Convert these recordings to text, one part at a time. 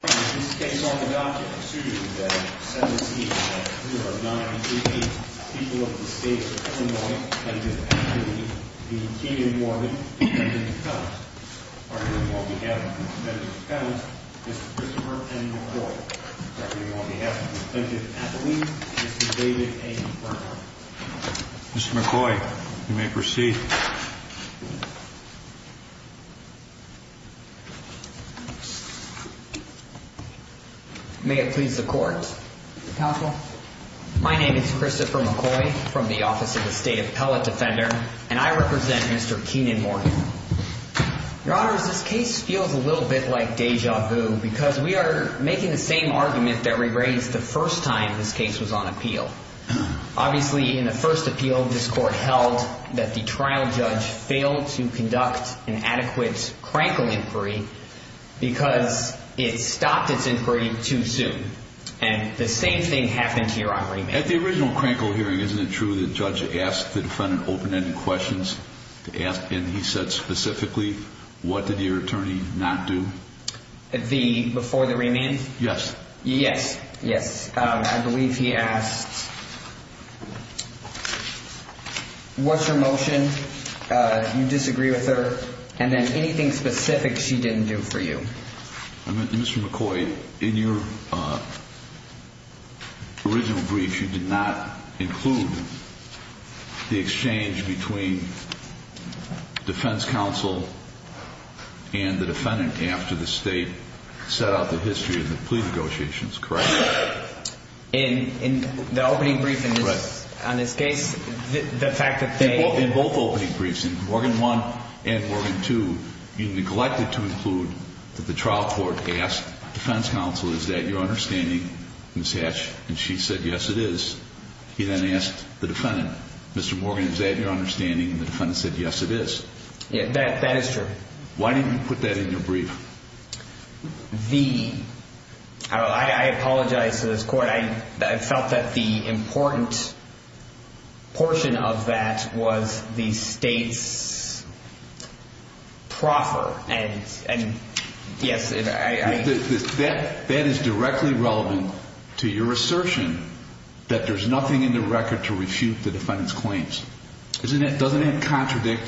This is a case on the docket, proceeding today, 7-C-0-9-3-B. People of the state of Illinois, plaintiff, Anthony B. Morgan, defendant, defendant. On behalf of the defendant, defendant, Mr. Christopher N. McCoy. On behalf of the plaintiff, appellee, Mr. David A. Burnham. Mr. McCoy, you may proceed. May it please the court. Counsel. My name is Christopher McCoy from the Office of the State Appellate Defender, and I represent Mr. Kenan Morgan. Your Honors, this case feels a little bit like deja vu because we are making the same argument that we raised the first time this case was on appeal. Obviously, in the first appeal, this court held that the trial judge failed to conduct an adequate crankle inquiry because it stopped its inquiry too soon. And the same thing happened here on remand. At the original crankle hearing, isn't it true that the judge asked the defendant open-ended questions? And he said specifically, what did your attorney not do? Before the remand? Yes. Yes. Yes. I believe he asked what's her motion, you disagree with her, and then anything specific she didn't do for you. Mr. McCoy, in your original brief, you did not include the exchange between defense counsel and the defendant after the state set out the history of the plea negotiations, correct? In the opening brief on this case, the fact that they In both opening briefs, in Morgan 1 and Morgan 2, you neglected to include that the trial court asked defense counsel, is that your understanding, Ms. Hatch? And she said, yes, it is. He then asked the defendant, Mr. Morgan, is that your understanding? And the defendant said, yes, it is. That is true. Why didn't you put that in your brief? I apologize to this court. I felt that the important portion of that was the state's proffer. And yes, I That is directly relevant to your assertion that there's nothing in the record to refute the defendant's claims. Doesn't that contradict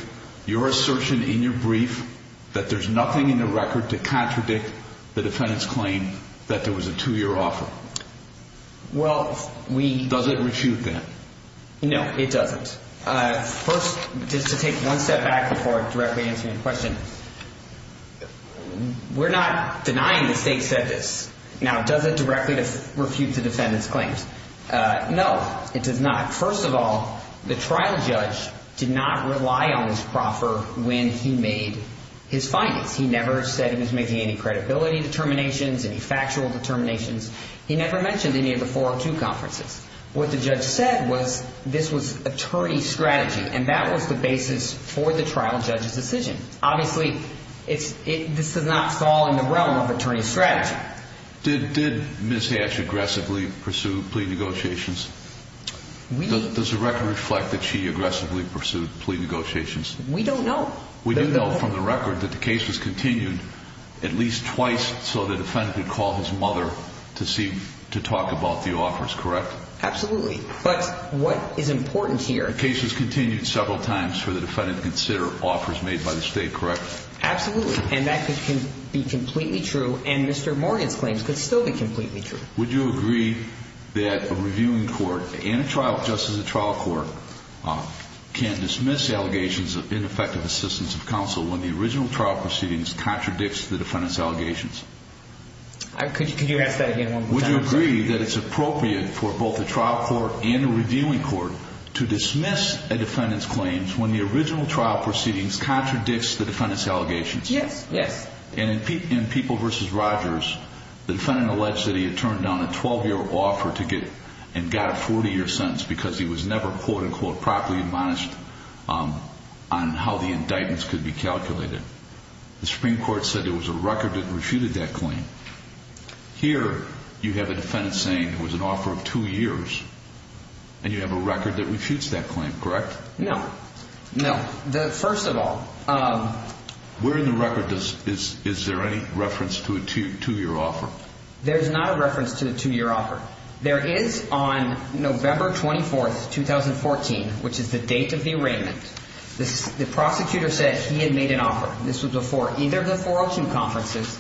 your assertion in your brief that there's nothing in the record to contradict the defendant's claim that there was a two-year offer? Well, we Does it refute that? No, it doesn't. First, just to take one step back before directly answering your question, we're not denying the state said this. Now, does it directly refute the defendant's claims? No, it does not. First of all, the trial judge did not rely on his proffer when he made his findings. He never said he was making any credibility determinations, any factual determinations. He never mentioned any of the 402 conferences. What the judge said was this was attorney strategy, and that was the basis for the trial judge's decision. Obviously, this does not fall in the realm of attorney strategy. Did Ms. Hatch aggressively pursue plea negotiations? Does the record reflect that she aggressively pursued plea negotiations? We don't know. We do know from the record that the case was continued at least twice so the defendant could call his mother to talk about the offers, correct? Absolutely. But what is important here The case was continued several times for the defendant to consider offers made by the state, correct? Absolutely, and that could be completely true, and Mr. Morgan's claims could still be completely true. Would you agree that a reviewing court and a trial court just as a trial court can dismiss allegations of ineffective assistance of counsel when the original trial proceedings contradicts the defendant's allegations? Could you ask that again one more time? Would you agree that it's appropriate for both a trial court and a reviewing court to dismiss a defendant's claims when the original trial proceedings contradicts the defendant's allegations? Yes, yes. In People v. Rogers, the defendant alleged that he had turned down a 12-year offer and got a 40-year sentence because he was never quote-unquote properly admonished on how the indictments could be calculated. The Supreme Court said there was a record that refuted that claim. Here, you have a defendant saying it was an offer of two years, and you have a record that refutes that claim, correct? No, no. Where in the record is there any reference to a two-year offer? There is not a reference to a two-year offer. There is on November 24, 2014, which is the date of the arraignment, the prosecutor said he had made an offer. This was before either of the 402 conferences,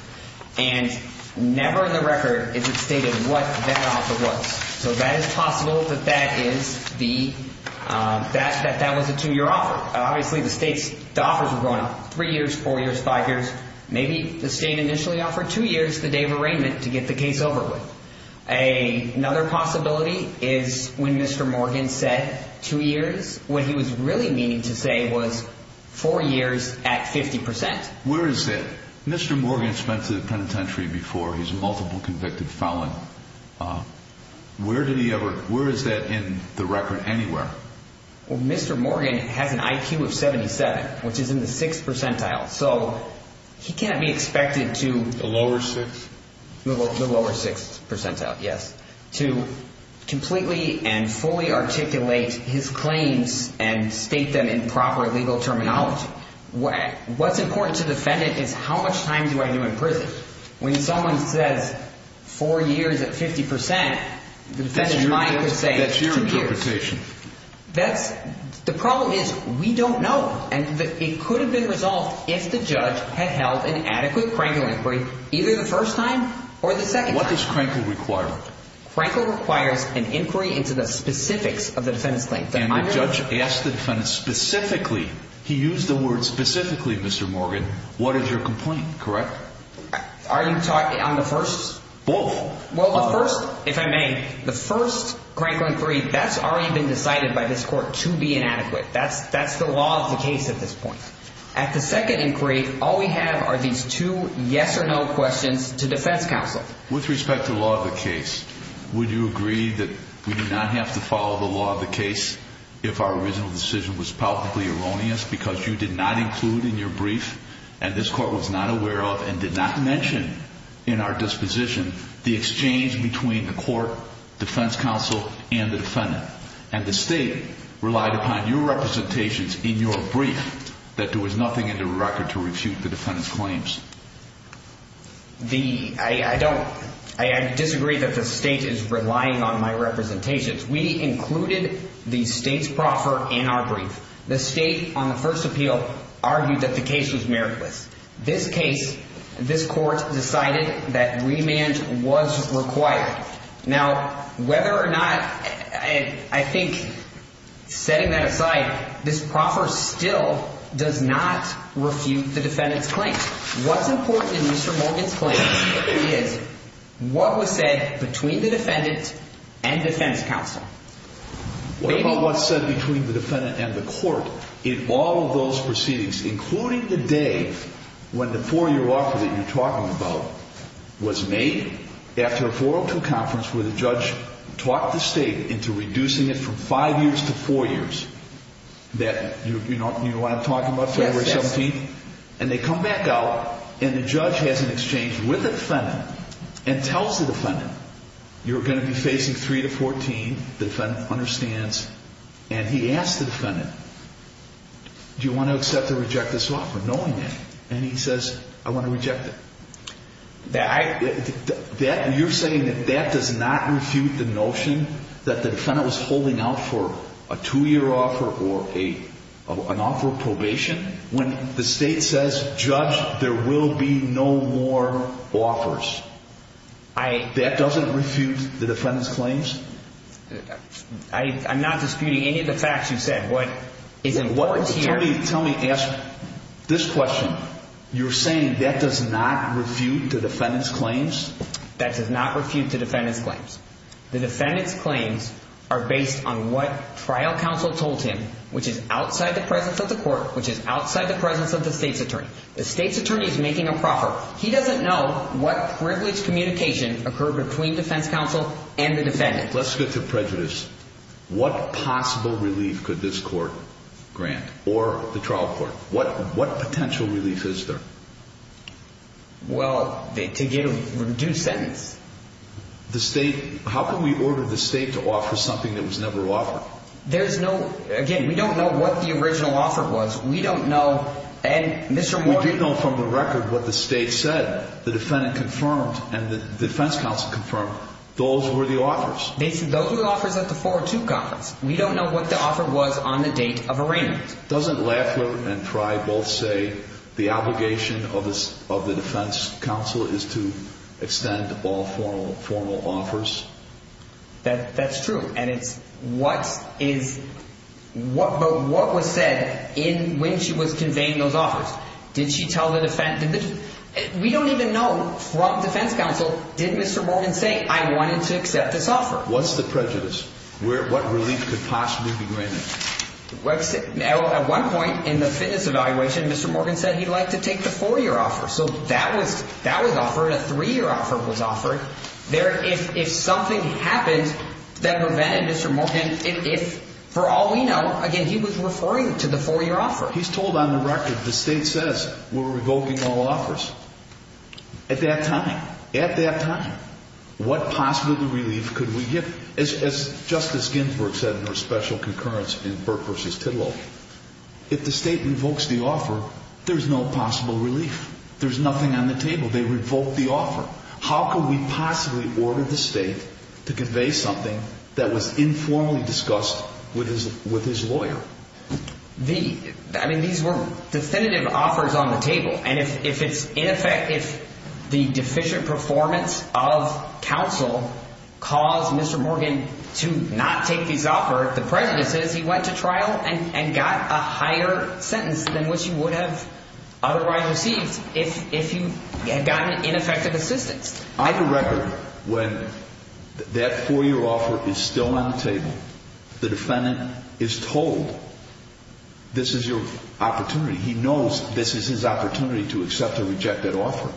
and never in the record is it stated what that offer was. So that is possible that that was a two-year offer. Obviously, the state's offers were going three years, four years, five years. Maybe the state initially offered two years the day of arraignment to get the case over with. Another possibility is when Mr. Morgan said two years, what he was really meaning to say was four years at 50%. Where is it? Mr. Morgan spent to the penitentiary before. He's a multiple convicted felon. Where is that in the record anywhere? Well, Mr. Morgan has an IQ of 77, which is in the 6th percentile, so he can't be expected to— The lower 6th? The lower 6th percentile, yes, to completely and fully articulate his claims and state them in proper legal terminology. What's important to the defendant is how much time do I do in prison? When someone says four years at 50%, the defendant's mind could say two years. That's your interpretation. The problem is we don't know. And it could have been resolved if the judge had held an adequate Krankel inquiry either the first time or the second time. What does Krankel require? Krankel requires an inquiry into the specifics of the defendant's claim. And the judge asked the defendant specifically, he used the word specifically, Mr. Morgan, what is your complaint, correct? Are you talking on the first? Both. Well, the first, if I may, the first Krankel inquiry, that's already been decided by this court to be inadequate. That's the law of the case at this point. At the second inquiry, all we have are these two yes or no questions to defense counsel. With respect to the law of the case, would you agree that we do not have to follow the law of the case if our original decision was politically erroneous because you did not include in your brief, and this court was not aware of and did not mention in our disposition, the exchange between the court, defense counsel, and the defendant. And the state relied upon your representations in your brief that there was nothing in the record to refute the defendant's claims. The, I don't, I disagree that the state is relying on my representations. We included the state's proffer in our brief. The state, on the first appeal, argued that the case was meritless. This case, this court decided that remand was required. Now, whether or not, I think, setting that aside, this proffer still does not refute the defendant's claim. What's important in Mr. Morgan's claim is what was said between the defendant and defense counsel. What about what's said between the defendant and the court in all of those proceedings, including the day when the four-year offer that you're talking about was made after a 402 conference where the judge talked the state into reducing it from five years to four years. That, you know, you know what I'm talking about, February 17th? And they come back out, and the judge has an exchange with the defendant and tells the defendant, you're going to be facing three to 14, the defendant understands. And he asks the defendant, do you want to accept or reject this offer knowing that? And he says, I want to reject it. That, you're saying that that does not refute the notion that the defendant was holding out for a two-year offer or an offer of probation when the state says, judge, there will be no more offers? That doesn't refute the defendant's claims? I'm not disputing any of the facts you said. What is important here is... Tell me, ask this question. You're saying that does not refute the defendant's claims? That does not refute the defendant's claims. The defendant's claims are based on what trial counsel told him, which is outside the presence of the court, which is outside the presence of the state's attorney. The state's attorney is making a proffer. He doesn't know what privileged communication occurred between defense counsel and the defendant. Let's get to prejudice. What possible relief could this court grant or the trial court? What potential relief is there? Well, to get a reduced sentence. The state, how can we order the state to offer something that was never offered? There's no, again, we don't know what the original offer was. We don't know, and Mr. Morgan... We did know from the record what the state said. The defendant confirmed and the defense counsel confirmed. Those were the offers. They said those were the offers at the 402 conference. We don't know what the offer was on the date of arraignment. Doesn't Laffler and Fry both say the obligation of the defense counsel is to extend all formal offers? That's true, and it's what is... But what was said when she was conveying those offers? Did she tell the defense... We don't even know from defense counsel, did Mr. Morgan say, I wanted to accept this offer? What relief could possibly be granted? At one point in the fitness evaluation, Mr. Morgan said he'd like to take the four-year offer. So that was offered. A three-year offer was offered. If something happened that prevented Mr. Morgan... For all we know, again, he was referring to the four-year offer. He's told on the record the state says we're revoking all offers. At that time, at that time, what possible relief could we get? As Justice Ginsburg said in her special concurrence in Burke v. Tidwell, if the state revokes the offer, there's no possible relief. There's nothing on the table. They revoked the offer. How could we possibly order the state to convey something that was informally discussed with his lawyer? I mean, these were definitive offers on the table. And if it's in effect, if the deficient performance of counsel caused Mr. Morgan to not take these offers, the prejudice is he went to trial and got a higher sentence than what you would have otherwise received if you had gotten ineffective assistance. On the record, when that four-year offer is still on the table, the defendant is told this is your opportunity. He knows this is his opportunity to accept or reject that offer.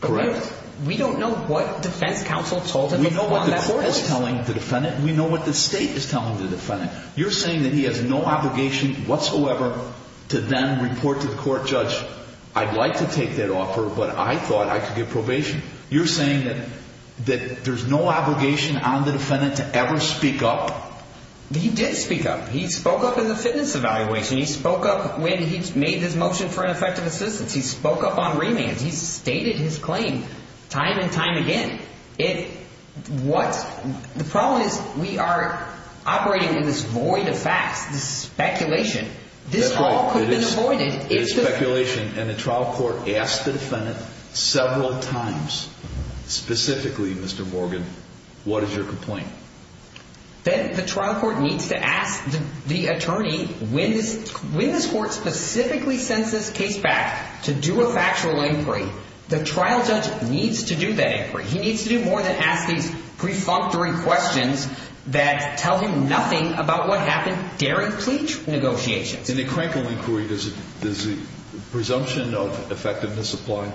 Correct? We don't know what defense counsel told him. We know what the court is telling the defendant. We know what the state is telling the defendant. You're saying that he has no obligation whatsoever to then report to the court judge, I'd like to take that offer, but I thought I could get probation. You're saying that there's no obligation on the defendant to ever speak up? He did speak up. He spoke up in the fitness evaluation. He spoke up when he made his motion for ineffective assistance. He spoke up on remands. He's stated his claim time and time again. The problem is we are operating in this void of facts, this speculation. This all could have been avoided. It is speculation, and the trial court asked the defendant several times, specifically, Mr. Morgan, what is your complaint? Then the trial court needs to ask the attorney, when this court specifically sends this case back to do a factual inquiry, the trial judge needs to do that inquiry. He needs to do more than ask these prefunctory questions that tell him nothing about what happened during plea negotiations. In the crankle inquiry, does the presumption of effectiveness apply?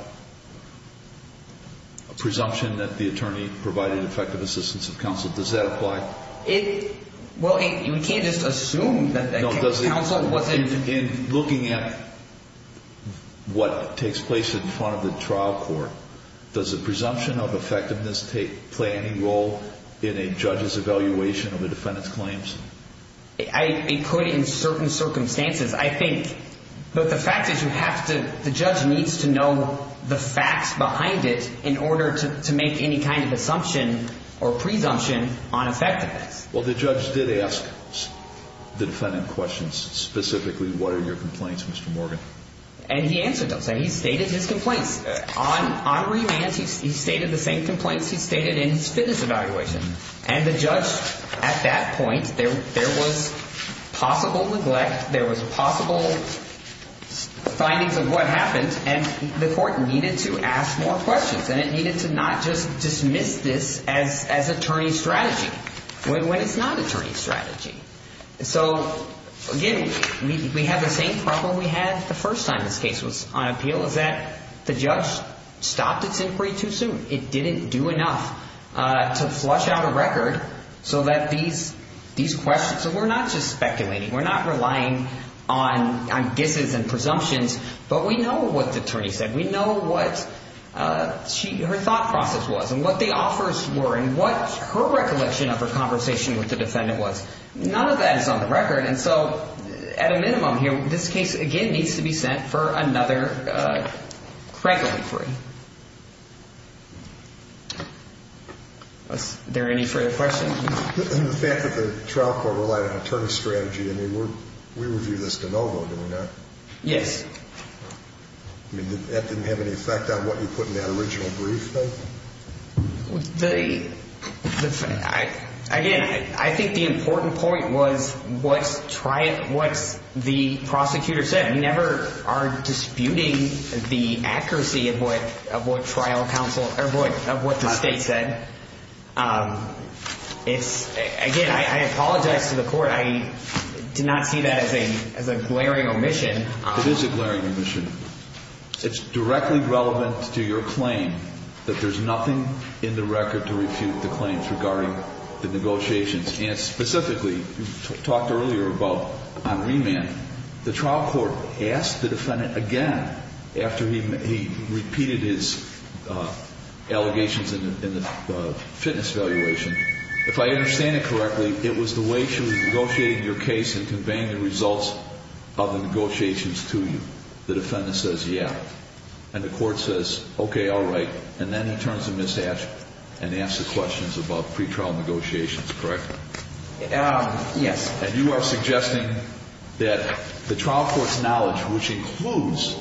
A presumption that the attorney provided effective assistance of counsel, does that apply? Well, you can't just assume that counsel wasn't. In looking at what takes place in front of the trial court, does the presumption of effectiveness play any role in a judge's evaluation of a defendant's claims? It could in certain circumstances, I think. But the fact is the judge needs to know the facts behind it in order to make any kind of assumption or presumption on effectiveness. Well, the judge did ask the defendant questions, specifically, what are your complaints, Mr. Morgan? And he answered those. He stated his complaints. On remand, he stated the same complaints he stated in his fitness evaluation. And the judge, at that point, there was possible neglect. There was possible findings of what happened. And the court needed to ask more questions. And it needed to not just dismiss this as attorney strategy when it's not attorney strategy. So, again, we have the same problem we had the first time this case was on appeal, is that the judge stopped its inquiry too soon. It didn't do enough to flush out a record so that these questions So we're not just speculating. We're not relying on guesses and presumptions. But we know what the attorney said. We know what her thought process was and what the offers were and what her recollection of her conversation with the defendant was. None of that is on the record. And so, at a minimum here, this case, again, needs to be sent for another crack inquiry. Are there any further questions? The fact that the trial court relied on attorney strategy, I mean, we review this de novo, do we not? Yes. I mean, that didn't have any effect on what you put in that original brief, though? Again, I think the important point was what the prosecutor said. We never are disputing the accuracy of what the state said. Again, I apologize to the court. I did not see that as a glaring omission. It is a glaring omission. It's directly relevant to your claim that there's nothing in the record to refute the claims regarding the negotiations. And specifically, you talked earlier about on remand, the trial court asked the defendant again, after he repeated his allegations in the fitness valuation, if I understand it correctly, it was the way she was negotiating your case and conveying the results of the negotiations to you. The defendant says, yeah. And the court says, okay, all right. And then he turns to Ms. Ash and asks the questions about pretrial negotiations, correct? Yes. And you are suggesting that the trial court's knowledge, which includes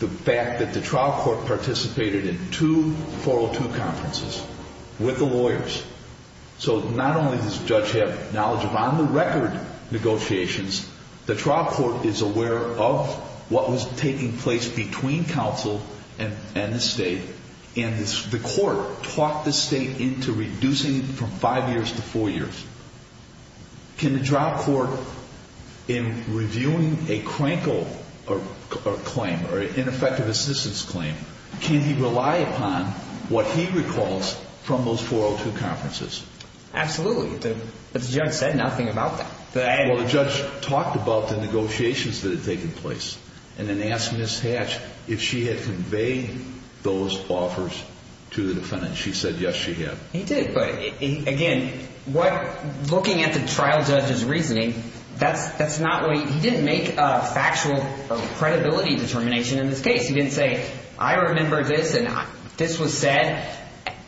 the fact that the trial court participated in two 402 conferences with the lawyers, so not only does the judge have knowledge of on-the-record negotiations, the trial court is aware of what was taking place between counsel and the state, and the court talked the state into reducing it from five years to four years. Can the trial court, in reviewing a crankle claim or ineffective assistance claim, can he rely upon what he recalls from those 402 conferences? Absolutely. The judge said nothing about that. Well, the judge talked about the negotiations that had taken place and then asked Ms. Hatch if she had conveyed those offers to the defendant. She said, yes, she had. He did, but, again, looking at the trial judge's reasoning, he didn't make a factual credibility determination in this case. He didn't say, I remember this and this was said.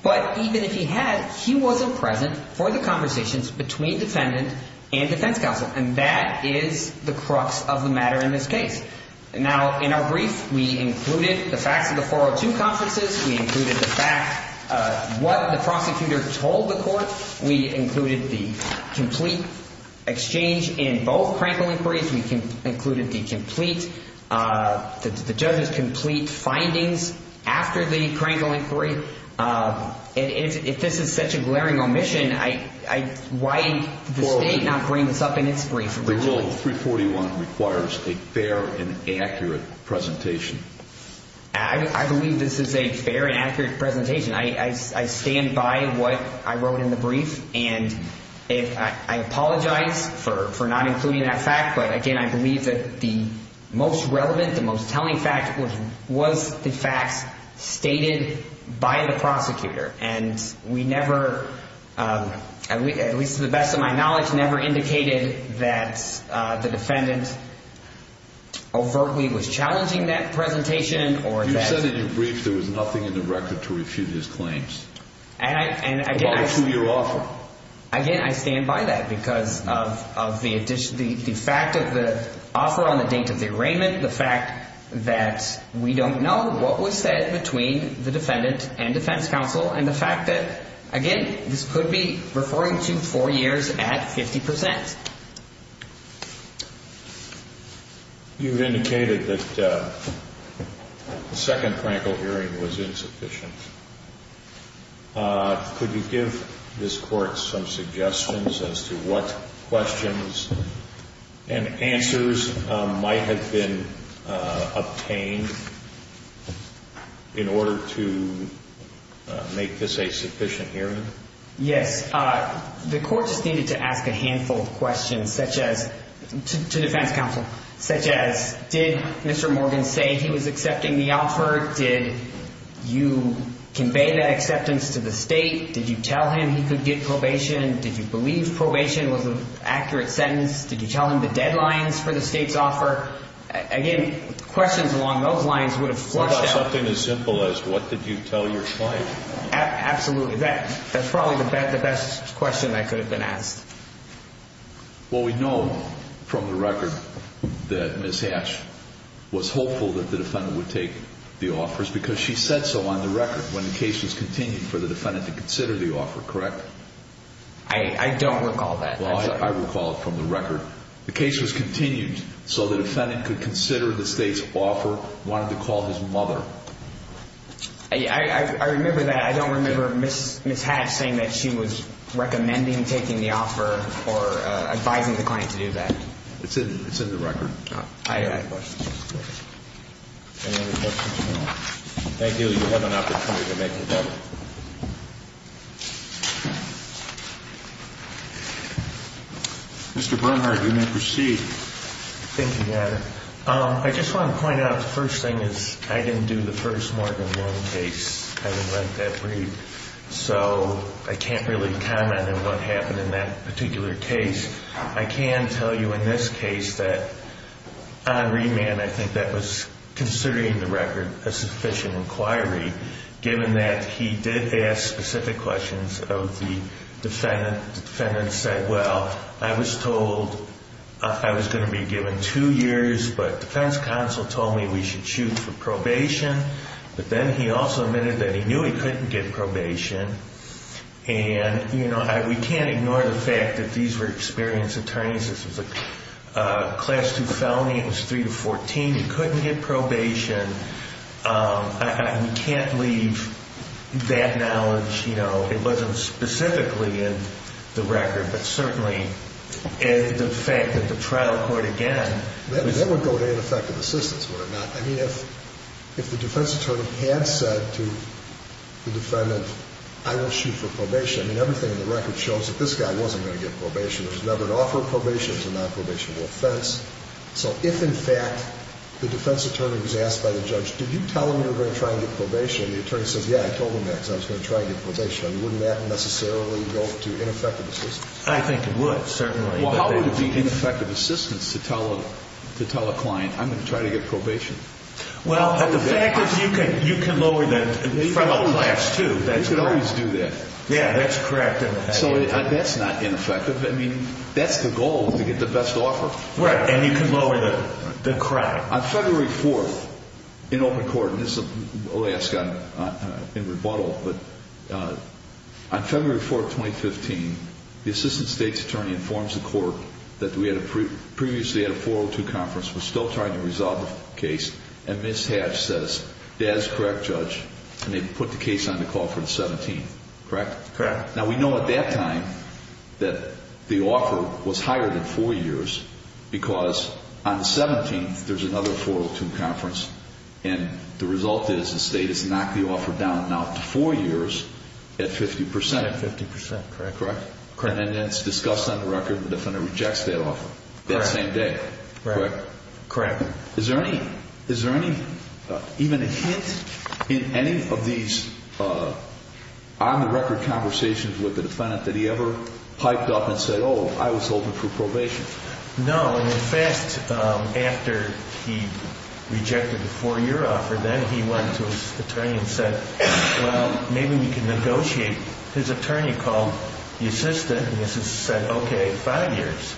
But even if he had, he wasn't present for the conversations between defendant and defense counsel, and that is the crux of the matter in this case. Now, in our brief, we included the facts of the 402 conferences. We included the fact of what the prosecutor told the court. We included the complete exchange in both crankle inquiries. We included the judge's complete findings after the crankle inquiry. If this is such a glaring omission, why did the state not bring this up in its brief originally? Rule 341 requires a fair and accurate presentation. I believe this is a fair and accurate presentation. I stand by what I wrote in the brief, and I apologize for not including that fact, but, again, I believe that the most relevant, the most telling fact was the facts stated by the prosecutor. And we never, at least to the best of my knowledge, never indicated that the defendant overtly was challenging that presentation. You said in your brief there was nothing in the record to refute his claims. And, again, I stand by that. I stand by that because of the fact of the offer on the date of the arraignment, the fact that we don't know what was said between the defendant and defense counsel, and the fact that, again, this could be referring to four years at 50 percent. You've indicated that the second crankle hearing was insufficient. Could you give this Court some suggestions as to what questions and answers might have been obtained in order to make this a sufficient hearing? Yes. The Court just needed to ask a handful of questions, such as, to defense counsel, such as did Mr. Morgan say he was accepting the offer? Did you convey that acceptance to the State? Did you tell him he could get probation? Did you believe probation was an accurate sentence? Did you tell him the deadlines for the State's offer? Again, questions along those lines would have flushed out. What about something as simple as what did you tell your client? Absolutely. That's probably the best question that could have been asked. Well, we know from the record that Ms. Hatch was hopeful that the defendant would take the offers because she said so on the record when the case was continued for the defendant to consider the offer, correct? I don't recall that. Well, I recall it from the record. The case was continued so the defendant could consider the State's offer, wanted to call his mother. I remember that. I don't remember Ms. Hatch saying that she was recommending taking the offer or advising the client to do that. It's in the record. I have questions. Any other questions at all? Thank you. You have an opportunity to make it up. Mr. Bernhardt, you may proceed. Thank you, Your Honor. I just want to point out the first thing is I didn't do the first Morgan Long case. I haven't went that brief. So I can't really comment on what happened in that particular case. I can tell you in this case that on remand I think that was, considering the record, a sufficient inquiry, given that he did ask specific questions of the defendant. The defendant said, well, I was told I was going to be given two years, but defense counsel told me we should shoot for probation. But then he also admitted that he knew he couldn't get probation. And, you know, we can't ignore the fact that these were experienced attorneys. This was a Class II felony. It was 3 to 14. He couldn't get probation. We can't leave that knowledge, you know. It wasn't specifically in the record, but certainly the fact that the trial court again was ---- That would go to ineffective assistance, would it not? I mean, if the defense attorney had said to the defendant, I will shoot for probation, I mean, everything in the record shows that this guy wasn't going to get probation. There was never an offer of probation. It was a nonprobationable offense. So if, in fact, the defense attorney was asked by the judge, did you tell him you were going to try and get probation, and the attorney says, yeah, I told him that because I was going to try and get probation, wouldn't that necessarily go to ineffective assistance? I think it would, certainly. Well, how would it be ineffective assistance to tell a client, I'm going to try to get probation? Well, the fact is you can lower the federal class, too. You can always do that. Yeah, that's correct. So that's not ineffective. I mean, that's the goal, to get the best offer. Right, and you can lower the crime. On February 4th, in open court, and this is the last time in rebuttal, but on February 4th, 2015, the assistant state's attorney informs the court that we had previously had a 402 conference. We're still trying to resolve the case, and Ms. Hatch says, that is correct, Judge, and they put the case on the call for the 17th. Correct? Correct. Now, we know at that time that the offer was higher than four years because on the 17th there's another 402 conference, and the result is the state has knocked the offer down now to four years at 50%. At 50%, correct. Correct? Correct. And then it's discussed on the record the defendant rejects that offer that same day. Correct. Correct. Is there any, even a hint in any of these on-the-record conversations with the defendant that he ever piped up and said, oh, I was hoping for probation? No. In fact, after he rejected the four-year offer, then he went to his attorney and said, well, maybe we can negotiate. His attorney called the assistant, and the assistant said, okay, five years,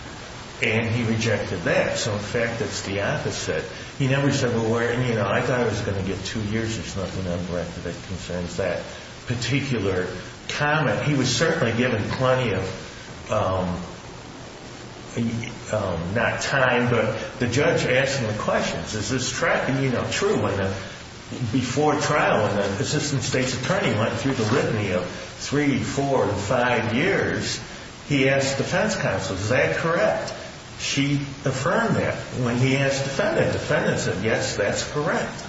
and he rejected that. So, in fact, it's the opposite. He never said, well, where, you know, I thought I was going to get two years. There's nothing on the record that concerns that particular comment. He was certainly given plenty of not time, but the judge asked him questions. Is this tracking, you know, true? Before trial, when the assistant state's attorney went through the litany of three, four, and five years, he asked defense counsel, is that correct? She affirmed that. When he asked the defendant, the defendant said, yes, that's correct.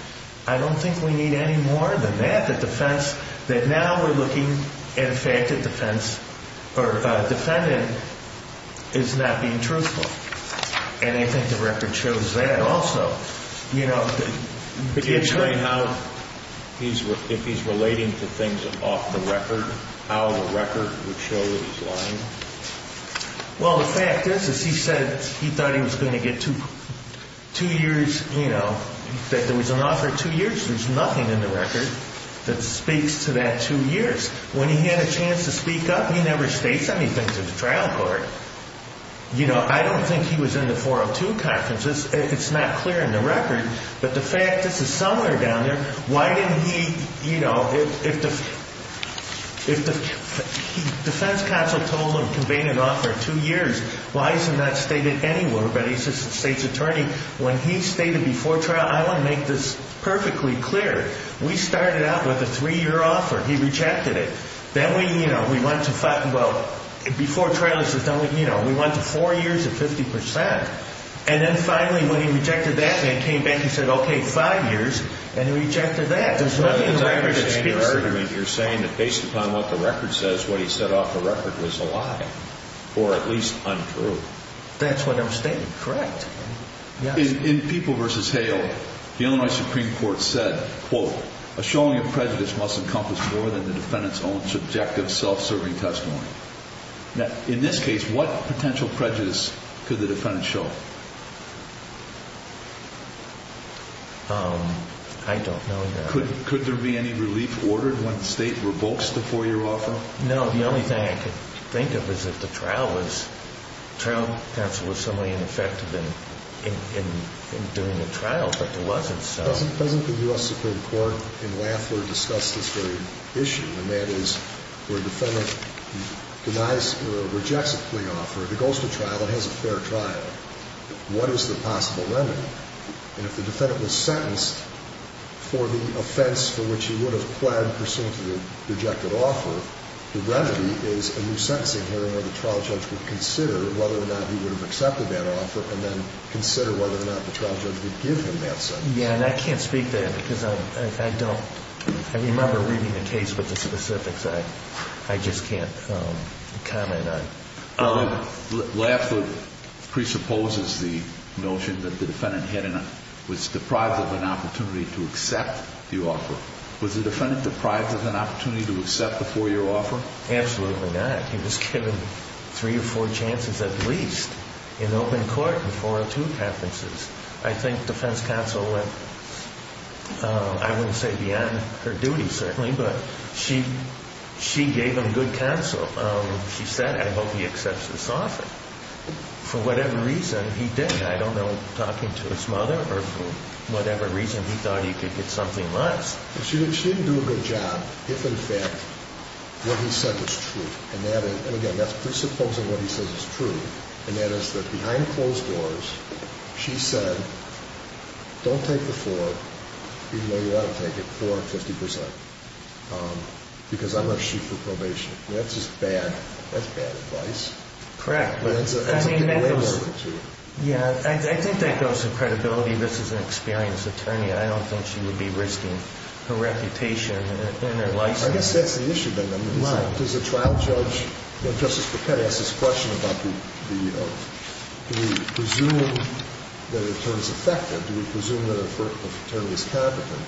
I don't think we need any more than that. The defense, that now we're looking at a fact that defense or defendant is not being truthful. And I think the record shows that also. You know, the attorney. If he's relating to things off the record, how the record would show that he's lying? Well, the fact is, is he said he thought he was going to get two years, you know, that there was an offer of two years. There's nothing in the record that speaks to that two years. When he had a chance to speak up, he never states anything to the trial court. You know, I don't think he was in the 402 conference. It's not clear in the record. But the fact, this is somewhere down there. Why didn't he, you know, if the defense counsel told him, conveyed an offer of two years, why isn't that stated anywhere by the assistant state's attorney? When he stated before trial, I want to make this perfectly clear. We started out with a three-year offer. He rejected it. Then we, you know, we went to five. Well, before trial, he says, you know, we went to four years at 50%. And then finally when he rejected that and came back, he said, okay, five years. And he rejected that. There's nothing in the record that speaks to that. You're saying that based upon what the record says, what he said off the record was a lie or at least untrue. That's what I'm stating. Correct. In People v. Hale, the Illinois Supreme Court said, quote, a showing of prejudice must encompass more than the defendant's own subjective self-serving testimony. Now, in this case, what potential prejudice could the defendant show? I don't know that. Could there be any relief ordered when the state revokes the four-year offer? No, the only thing I could think of is if the trial was, in doing the trial, but there wasn't. Doesn't the U.S. Supreme Court in Lafler discuss this very issue, and that is where a defendant denies or rejects a plea offer, it goes to trial, it has a fair trial. What is the possible remedy? And if the defendant was sentenced for the offense for which he would have pled pursuant to the rejected offer, the remedy is a new sentencing hearing where the trial judge would consider whether or not he would have accepted that offer and then consider whether or not the trial judge would give him that sentence. Yeah, and I can't speak to that because I don't remember reading the case with the specifics. I just can't comment on it. Lafler presupposes the notion that the defendant was deprived of an opportunity to accept the offer. Was the defendant deprived of an opportunity to accept the four-year offer? Absolutely not. He was given three or four chances at least in open court and four or two appearances. I think defense counsel would, I wouldn't say be on her duty, certainly, but she gave him good counsel. She said, I hope he accepts this offer. For whatever reason, he did. I don't know, talking to his mother or for whatever reason, he thought he could get something less. She didn't do a good job if, in fact, what he said was true. And, again, that's presupposing what he says is true, and that is that behind closed doors, she said, don't take the four, even though you ought to take it, four and 50%, because I'm going to shoot for probation. That's just bad. That's bad advice. Correct. I think that goes to credibility. This is an experienced attorney. I don't think she would be risking her reputation and her license. I guess that's the issue then. Why? Does a trial judge, when Justice Paquette asks this question about the, you know, do we presume that an attorney is effective? Do we presume that an attorney is competent?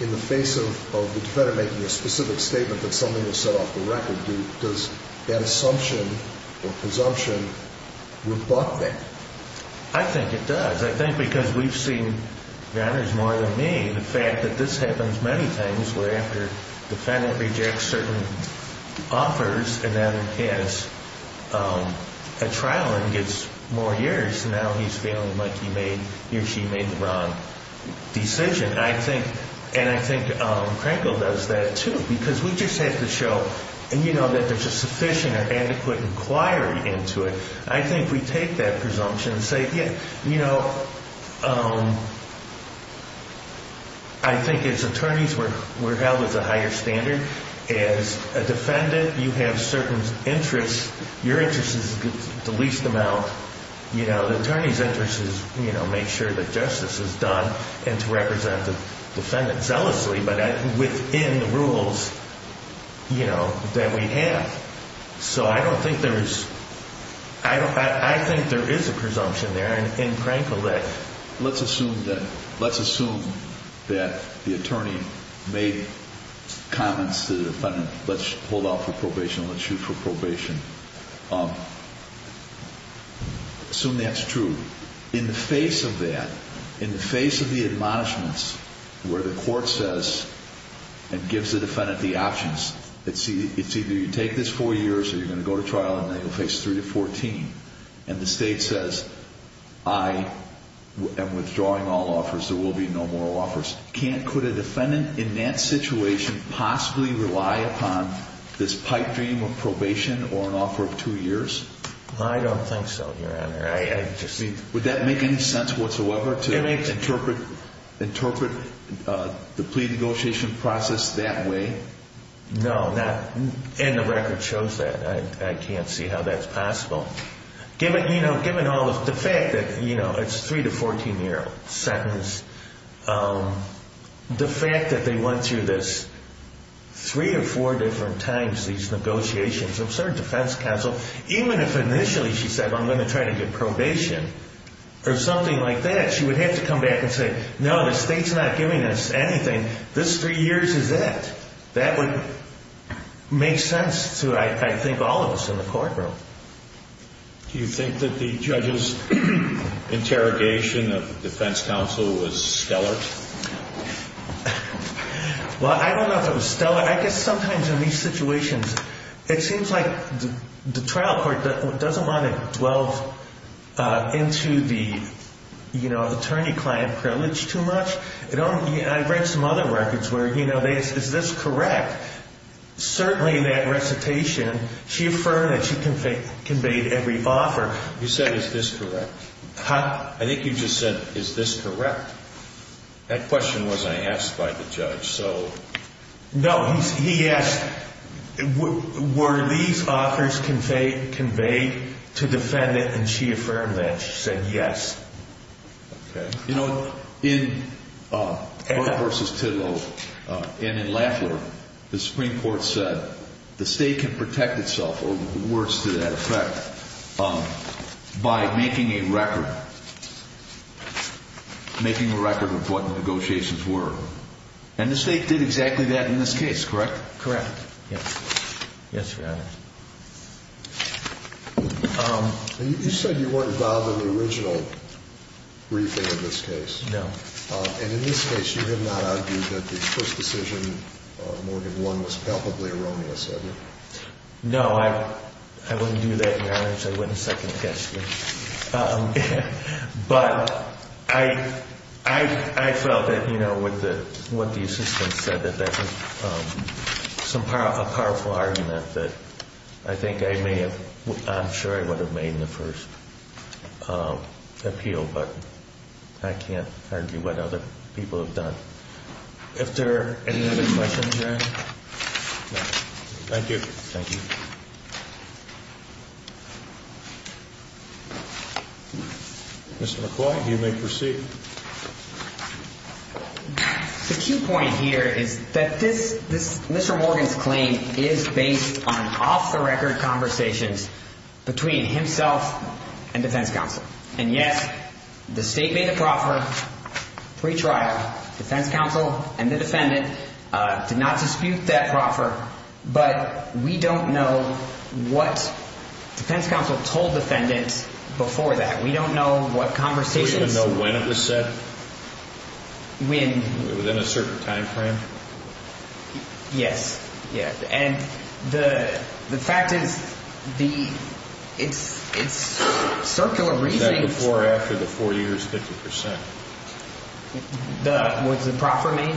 In the face of the defendant making a specific statement that something was set off the record, does that assumption or presumption rebut that? I think it does. I think because we've seen, and there's more than me, the fact that this happens many times where after the defendant rejects certain offers, and then has a trial and gets more years, now he's feeling like he or she made the wrong decision. And I think Krenkel does that, too, because we just have to show, you know, that there's a sufficient or adequate inquiry into it. I think we take that presumption and say, you know, I think as attorneys we're held as a higher standard. As a defendant, you have certain interests. Your interest is the least amount. You know, the attorney's interest is, you know, make sure that justice is done and to represent the defendant zealously, but within the rules, you know, that we have. So I don't think there is – I think there is a presumption there in Krenkel that. Let's assume that the attorney made comments to the defendant, let's hold off for probation, let's shoot for probation. Assume that's true. In the face of that, in the face of the admonishments where the court says and gives the defendant the options, it's either you take this four years or you're going to go to trial and then you'll face three to 14, and the state says, I am withdrawing all offers, there will be no more offers. Can't – could a defendant in that situation possibly rely upon this pipe dream of probation or an offer of two years? I don't think so, Your Honor. Would that make any sense whatsoever to interpret the plea negotiation process that way? No, not – and the record shows that. I can't see how that's possible. Given, you know, given all of – the fact that, you know, it's a three to 14-year sentence, the fact that they went through this three or four different times, these negotiations, absurd defense counsel, even if initially she said, I'm going to try to get probation or something like that, she would have to come back and say, no, the state's not giving us anything. This three years is it. That would make sense to, I think, all of us in the courtroom. Do you think that the judge's interrogation of the defense counsel was stellar? Well, I don't know if it was stellar. I guess sometimes in these situations, it seems like the trial court doesn't want to delve into the, you know, attorney-client privilege too much. I've read some other records where, you know, is this correct? Certainly that recitation, she affirmed that she conveyed every offer. You said, is this correct? I think you just said, is this correct? That question wasn't asked by the judge. No, he asked, were these offers conveyed to defendant? And she affirmed that. She said, yes. Okay. You know, in Burr v. Tidwell and in Laffler, the Supreme Court said the state can protect itself, or worse to that effect, by making a record, making a record of what negotiations were. And the state did exactly that in this case, correct? Correct. Yes. Yes, Your Honor. You said you weren't involved in the original briefing of this case. No. And in this case, you did not argue that the first decision Morgan won was palpably erroneous, did you? No, I wouldn't do that, Your Honor, because I wouldn't second guess you. But I felt that, you know, with what the assistant said, that that was a powerful argument that I think I may have, I'm sure I would have made in the first appeal, but I can't argue what other people have done. If there are any other questions, Your Honor? No. Thank you. Thank you. Mr. McCoy, you may proceed. The key point here is that this, Mr. Morgan's claim is based on off-the-record conversations between himself and defense counsel. And, yes, the state made the proffer, pre-trial, defense counsel and the defendant did not dispute that proffer, but we don't know what defense counsel told the defendant before that. We don't know what conversations. Do we even know when it was said? When? Within a certain time frame? Yes. And the fact is, it's circular reasoning. Was that before or after the four years 50%? Was the proffer made?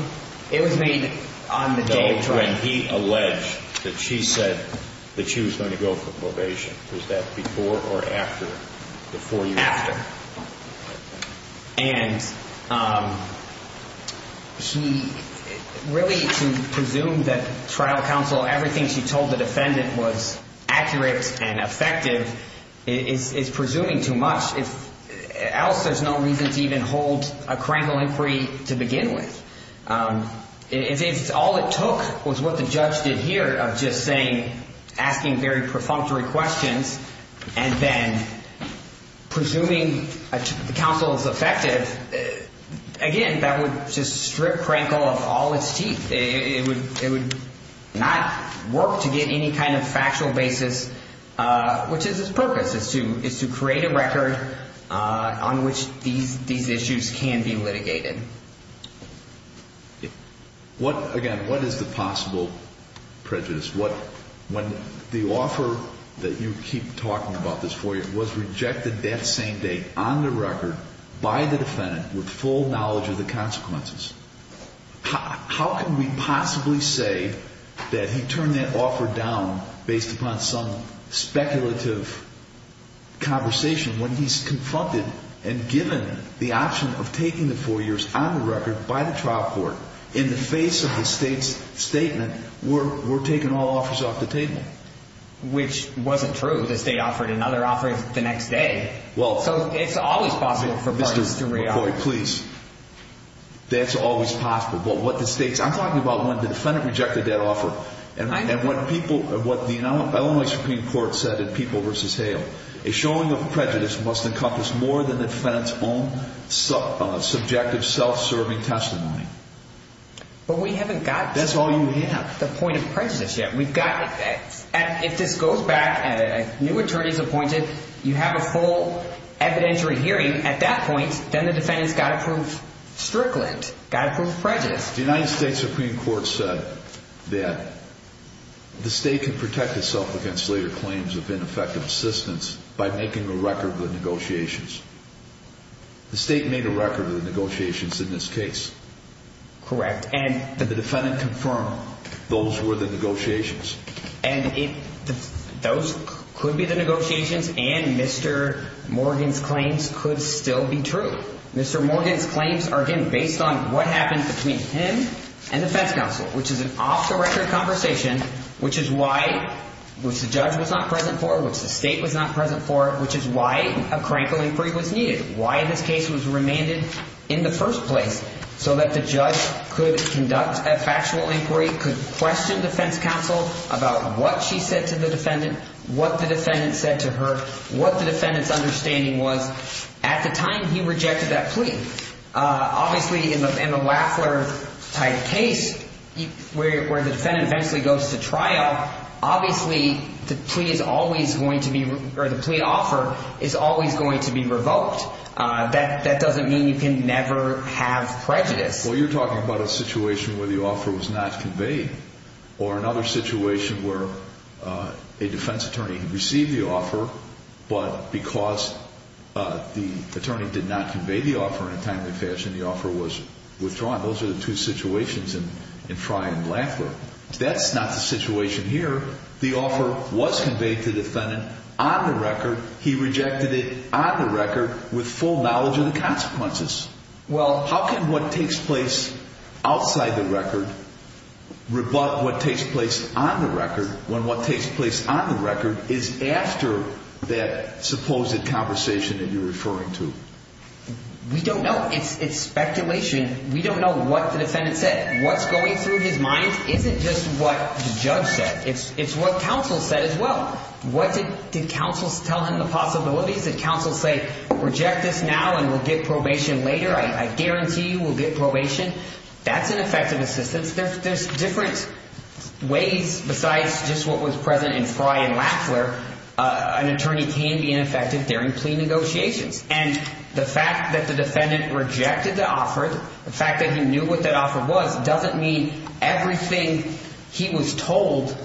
It was made on the day of trial. When he alleged that she said that she was going to go for probation, was that before or after the four years? After. And he really presumed that trial counsel, everything she told the defendant was accurate and effective, is presuming too much, else there's no reason to even hold a criminal inquiry to begin with. All it took was what the judge did here of just saying, asking very perfunctory questions, and then presuming the counsel is effective. Again, that would just strip Krankel of all its teeth. It would not work to get any kind of factual basis, which is its purpose, is to create a record on which these issues can be litigated. Again, what is the possible prejudice? When the offer that you keep talking about this four years was rejected that same day on the record by the defendant with full knowledge of the consequences, how can we possibly say that he turned that offer down based upon some speculative conversation when he's confronted and given the option of taking the four years on the record by the trial court in the face of the state's statement, we're taking all offers off the table? Which wasn't true. The state offered another offer the next day. So it's always possible for parties to reoffer. Mr. McCoy, please, that's always possible. But what the state's – I'm talking about when the defendant rejected that offer. And what the Illinois Supreme Court said in People v. Hale, a showing of prejudice must encompass more than the defendant's own subjective self-serving testimony. But we haven't got to the point of prejudice yet. If this goes back and a new attorney is appointed, you have a full evidentiary hearing at that point, then the defendant's got to prove strickland, got to prove prejudice. The United States Supreme Court said that the state can protect itself against later claims of ineffective assistance by making a record of the negotiations. The state made a record of the negotiations in this case. Correct. And the defendant confirmed those were the negotiations. And those could be the negotiations, and Mr. Morgan's claims could still be true. Mr. Morgan's claims are, again, based on what happened between him and the defense counsel, which is an off-the-record conversation, which is why – which the judge was not present for, which the state was not present for, which is why a crank of inquiry was needed, why this case was remanded in the first place so that the judge could conduct a factual inquiry, could question defense counsel about what she said to the defendant, what the defendant said to her, what the defendant's understanding was. At the time, he rejected that plea. Obviously, in a Waffler-type case, where the defendant eventually goes to trial, obviously the plea is always going to be – or the plea offer is always going to be revoked. That doesn't mean you can never have prejudice. Well, you're talking about a situation where the offer was not conveyed or another situation where a defense attorney received the offer but because the attorney did not convey the offer in a timely fashion, the offer was withdrawn. Those are the two situations in Frye and Waffler. That's not the situation here. The offer was conveyed to the defendant on the record. He rejected it on the record with full knowledge of the consequences. Well, how can what takes place outside the record rebut what takes place on the record when what takes place on the record is after that supposed conversation that you're referring to? We don't know. It's speculation. We don't know what the defendant said. What's going through his mind isn't just what the judge said. It's what counsel said as well. Did counsel tell him the possibilities? Did counsel say, reject this now and we'll get probation later? I guarantee you we'll get probation. That's an effective assistance. There's different ways besides just what was present in Frye and Waffler. An attorney can be ineffective during plea negotiations, and the fact that the defendant rejected the offer, the fact that he knew what that offer was, doesn't mean everything he was told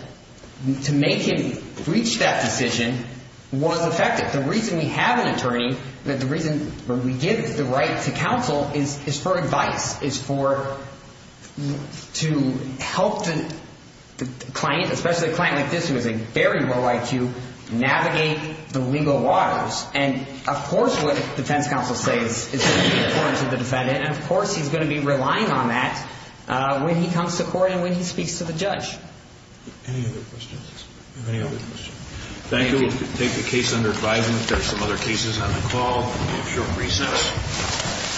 to make him reach that decision was effective. The reason we have an attorney, the reason we give the right to counsel, is for advice, is to help the client, especially a client like this who has a very low IQ, navigate the legal waters. And, of course, what defense counsel says is going to be important to the defendant, and, of course, he's going to be relying on that when he comes to court and when he speaks to the judge. Any other questions? Do we have any other questions? Thank you. We'll take the case under advisement. There are some other cases on the call. We'll give you a short recess.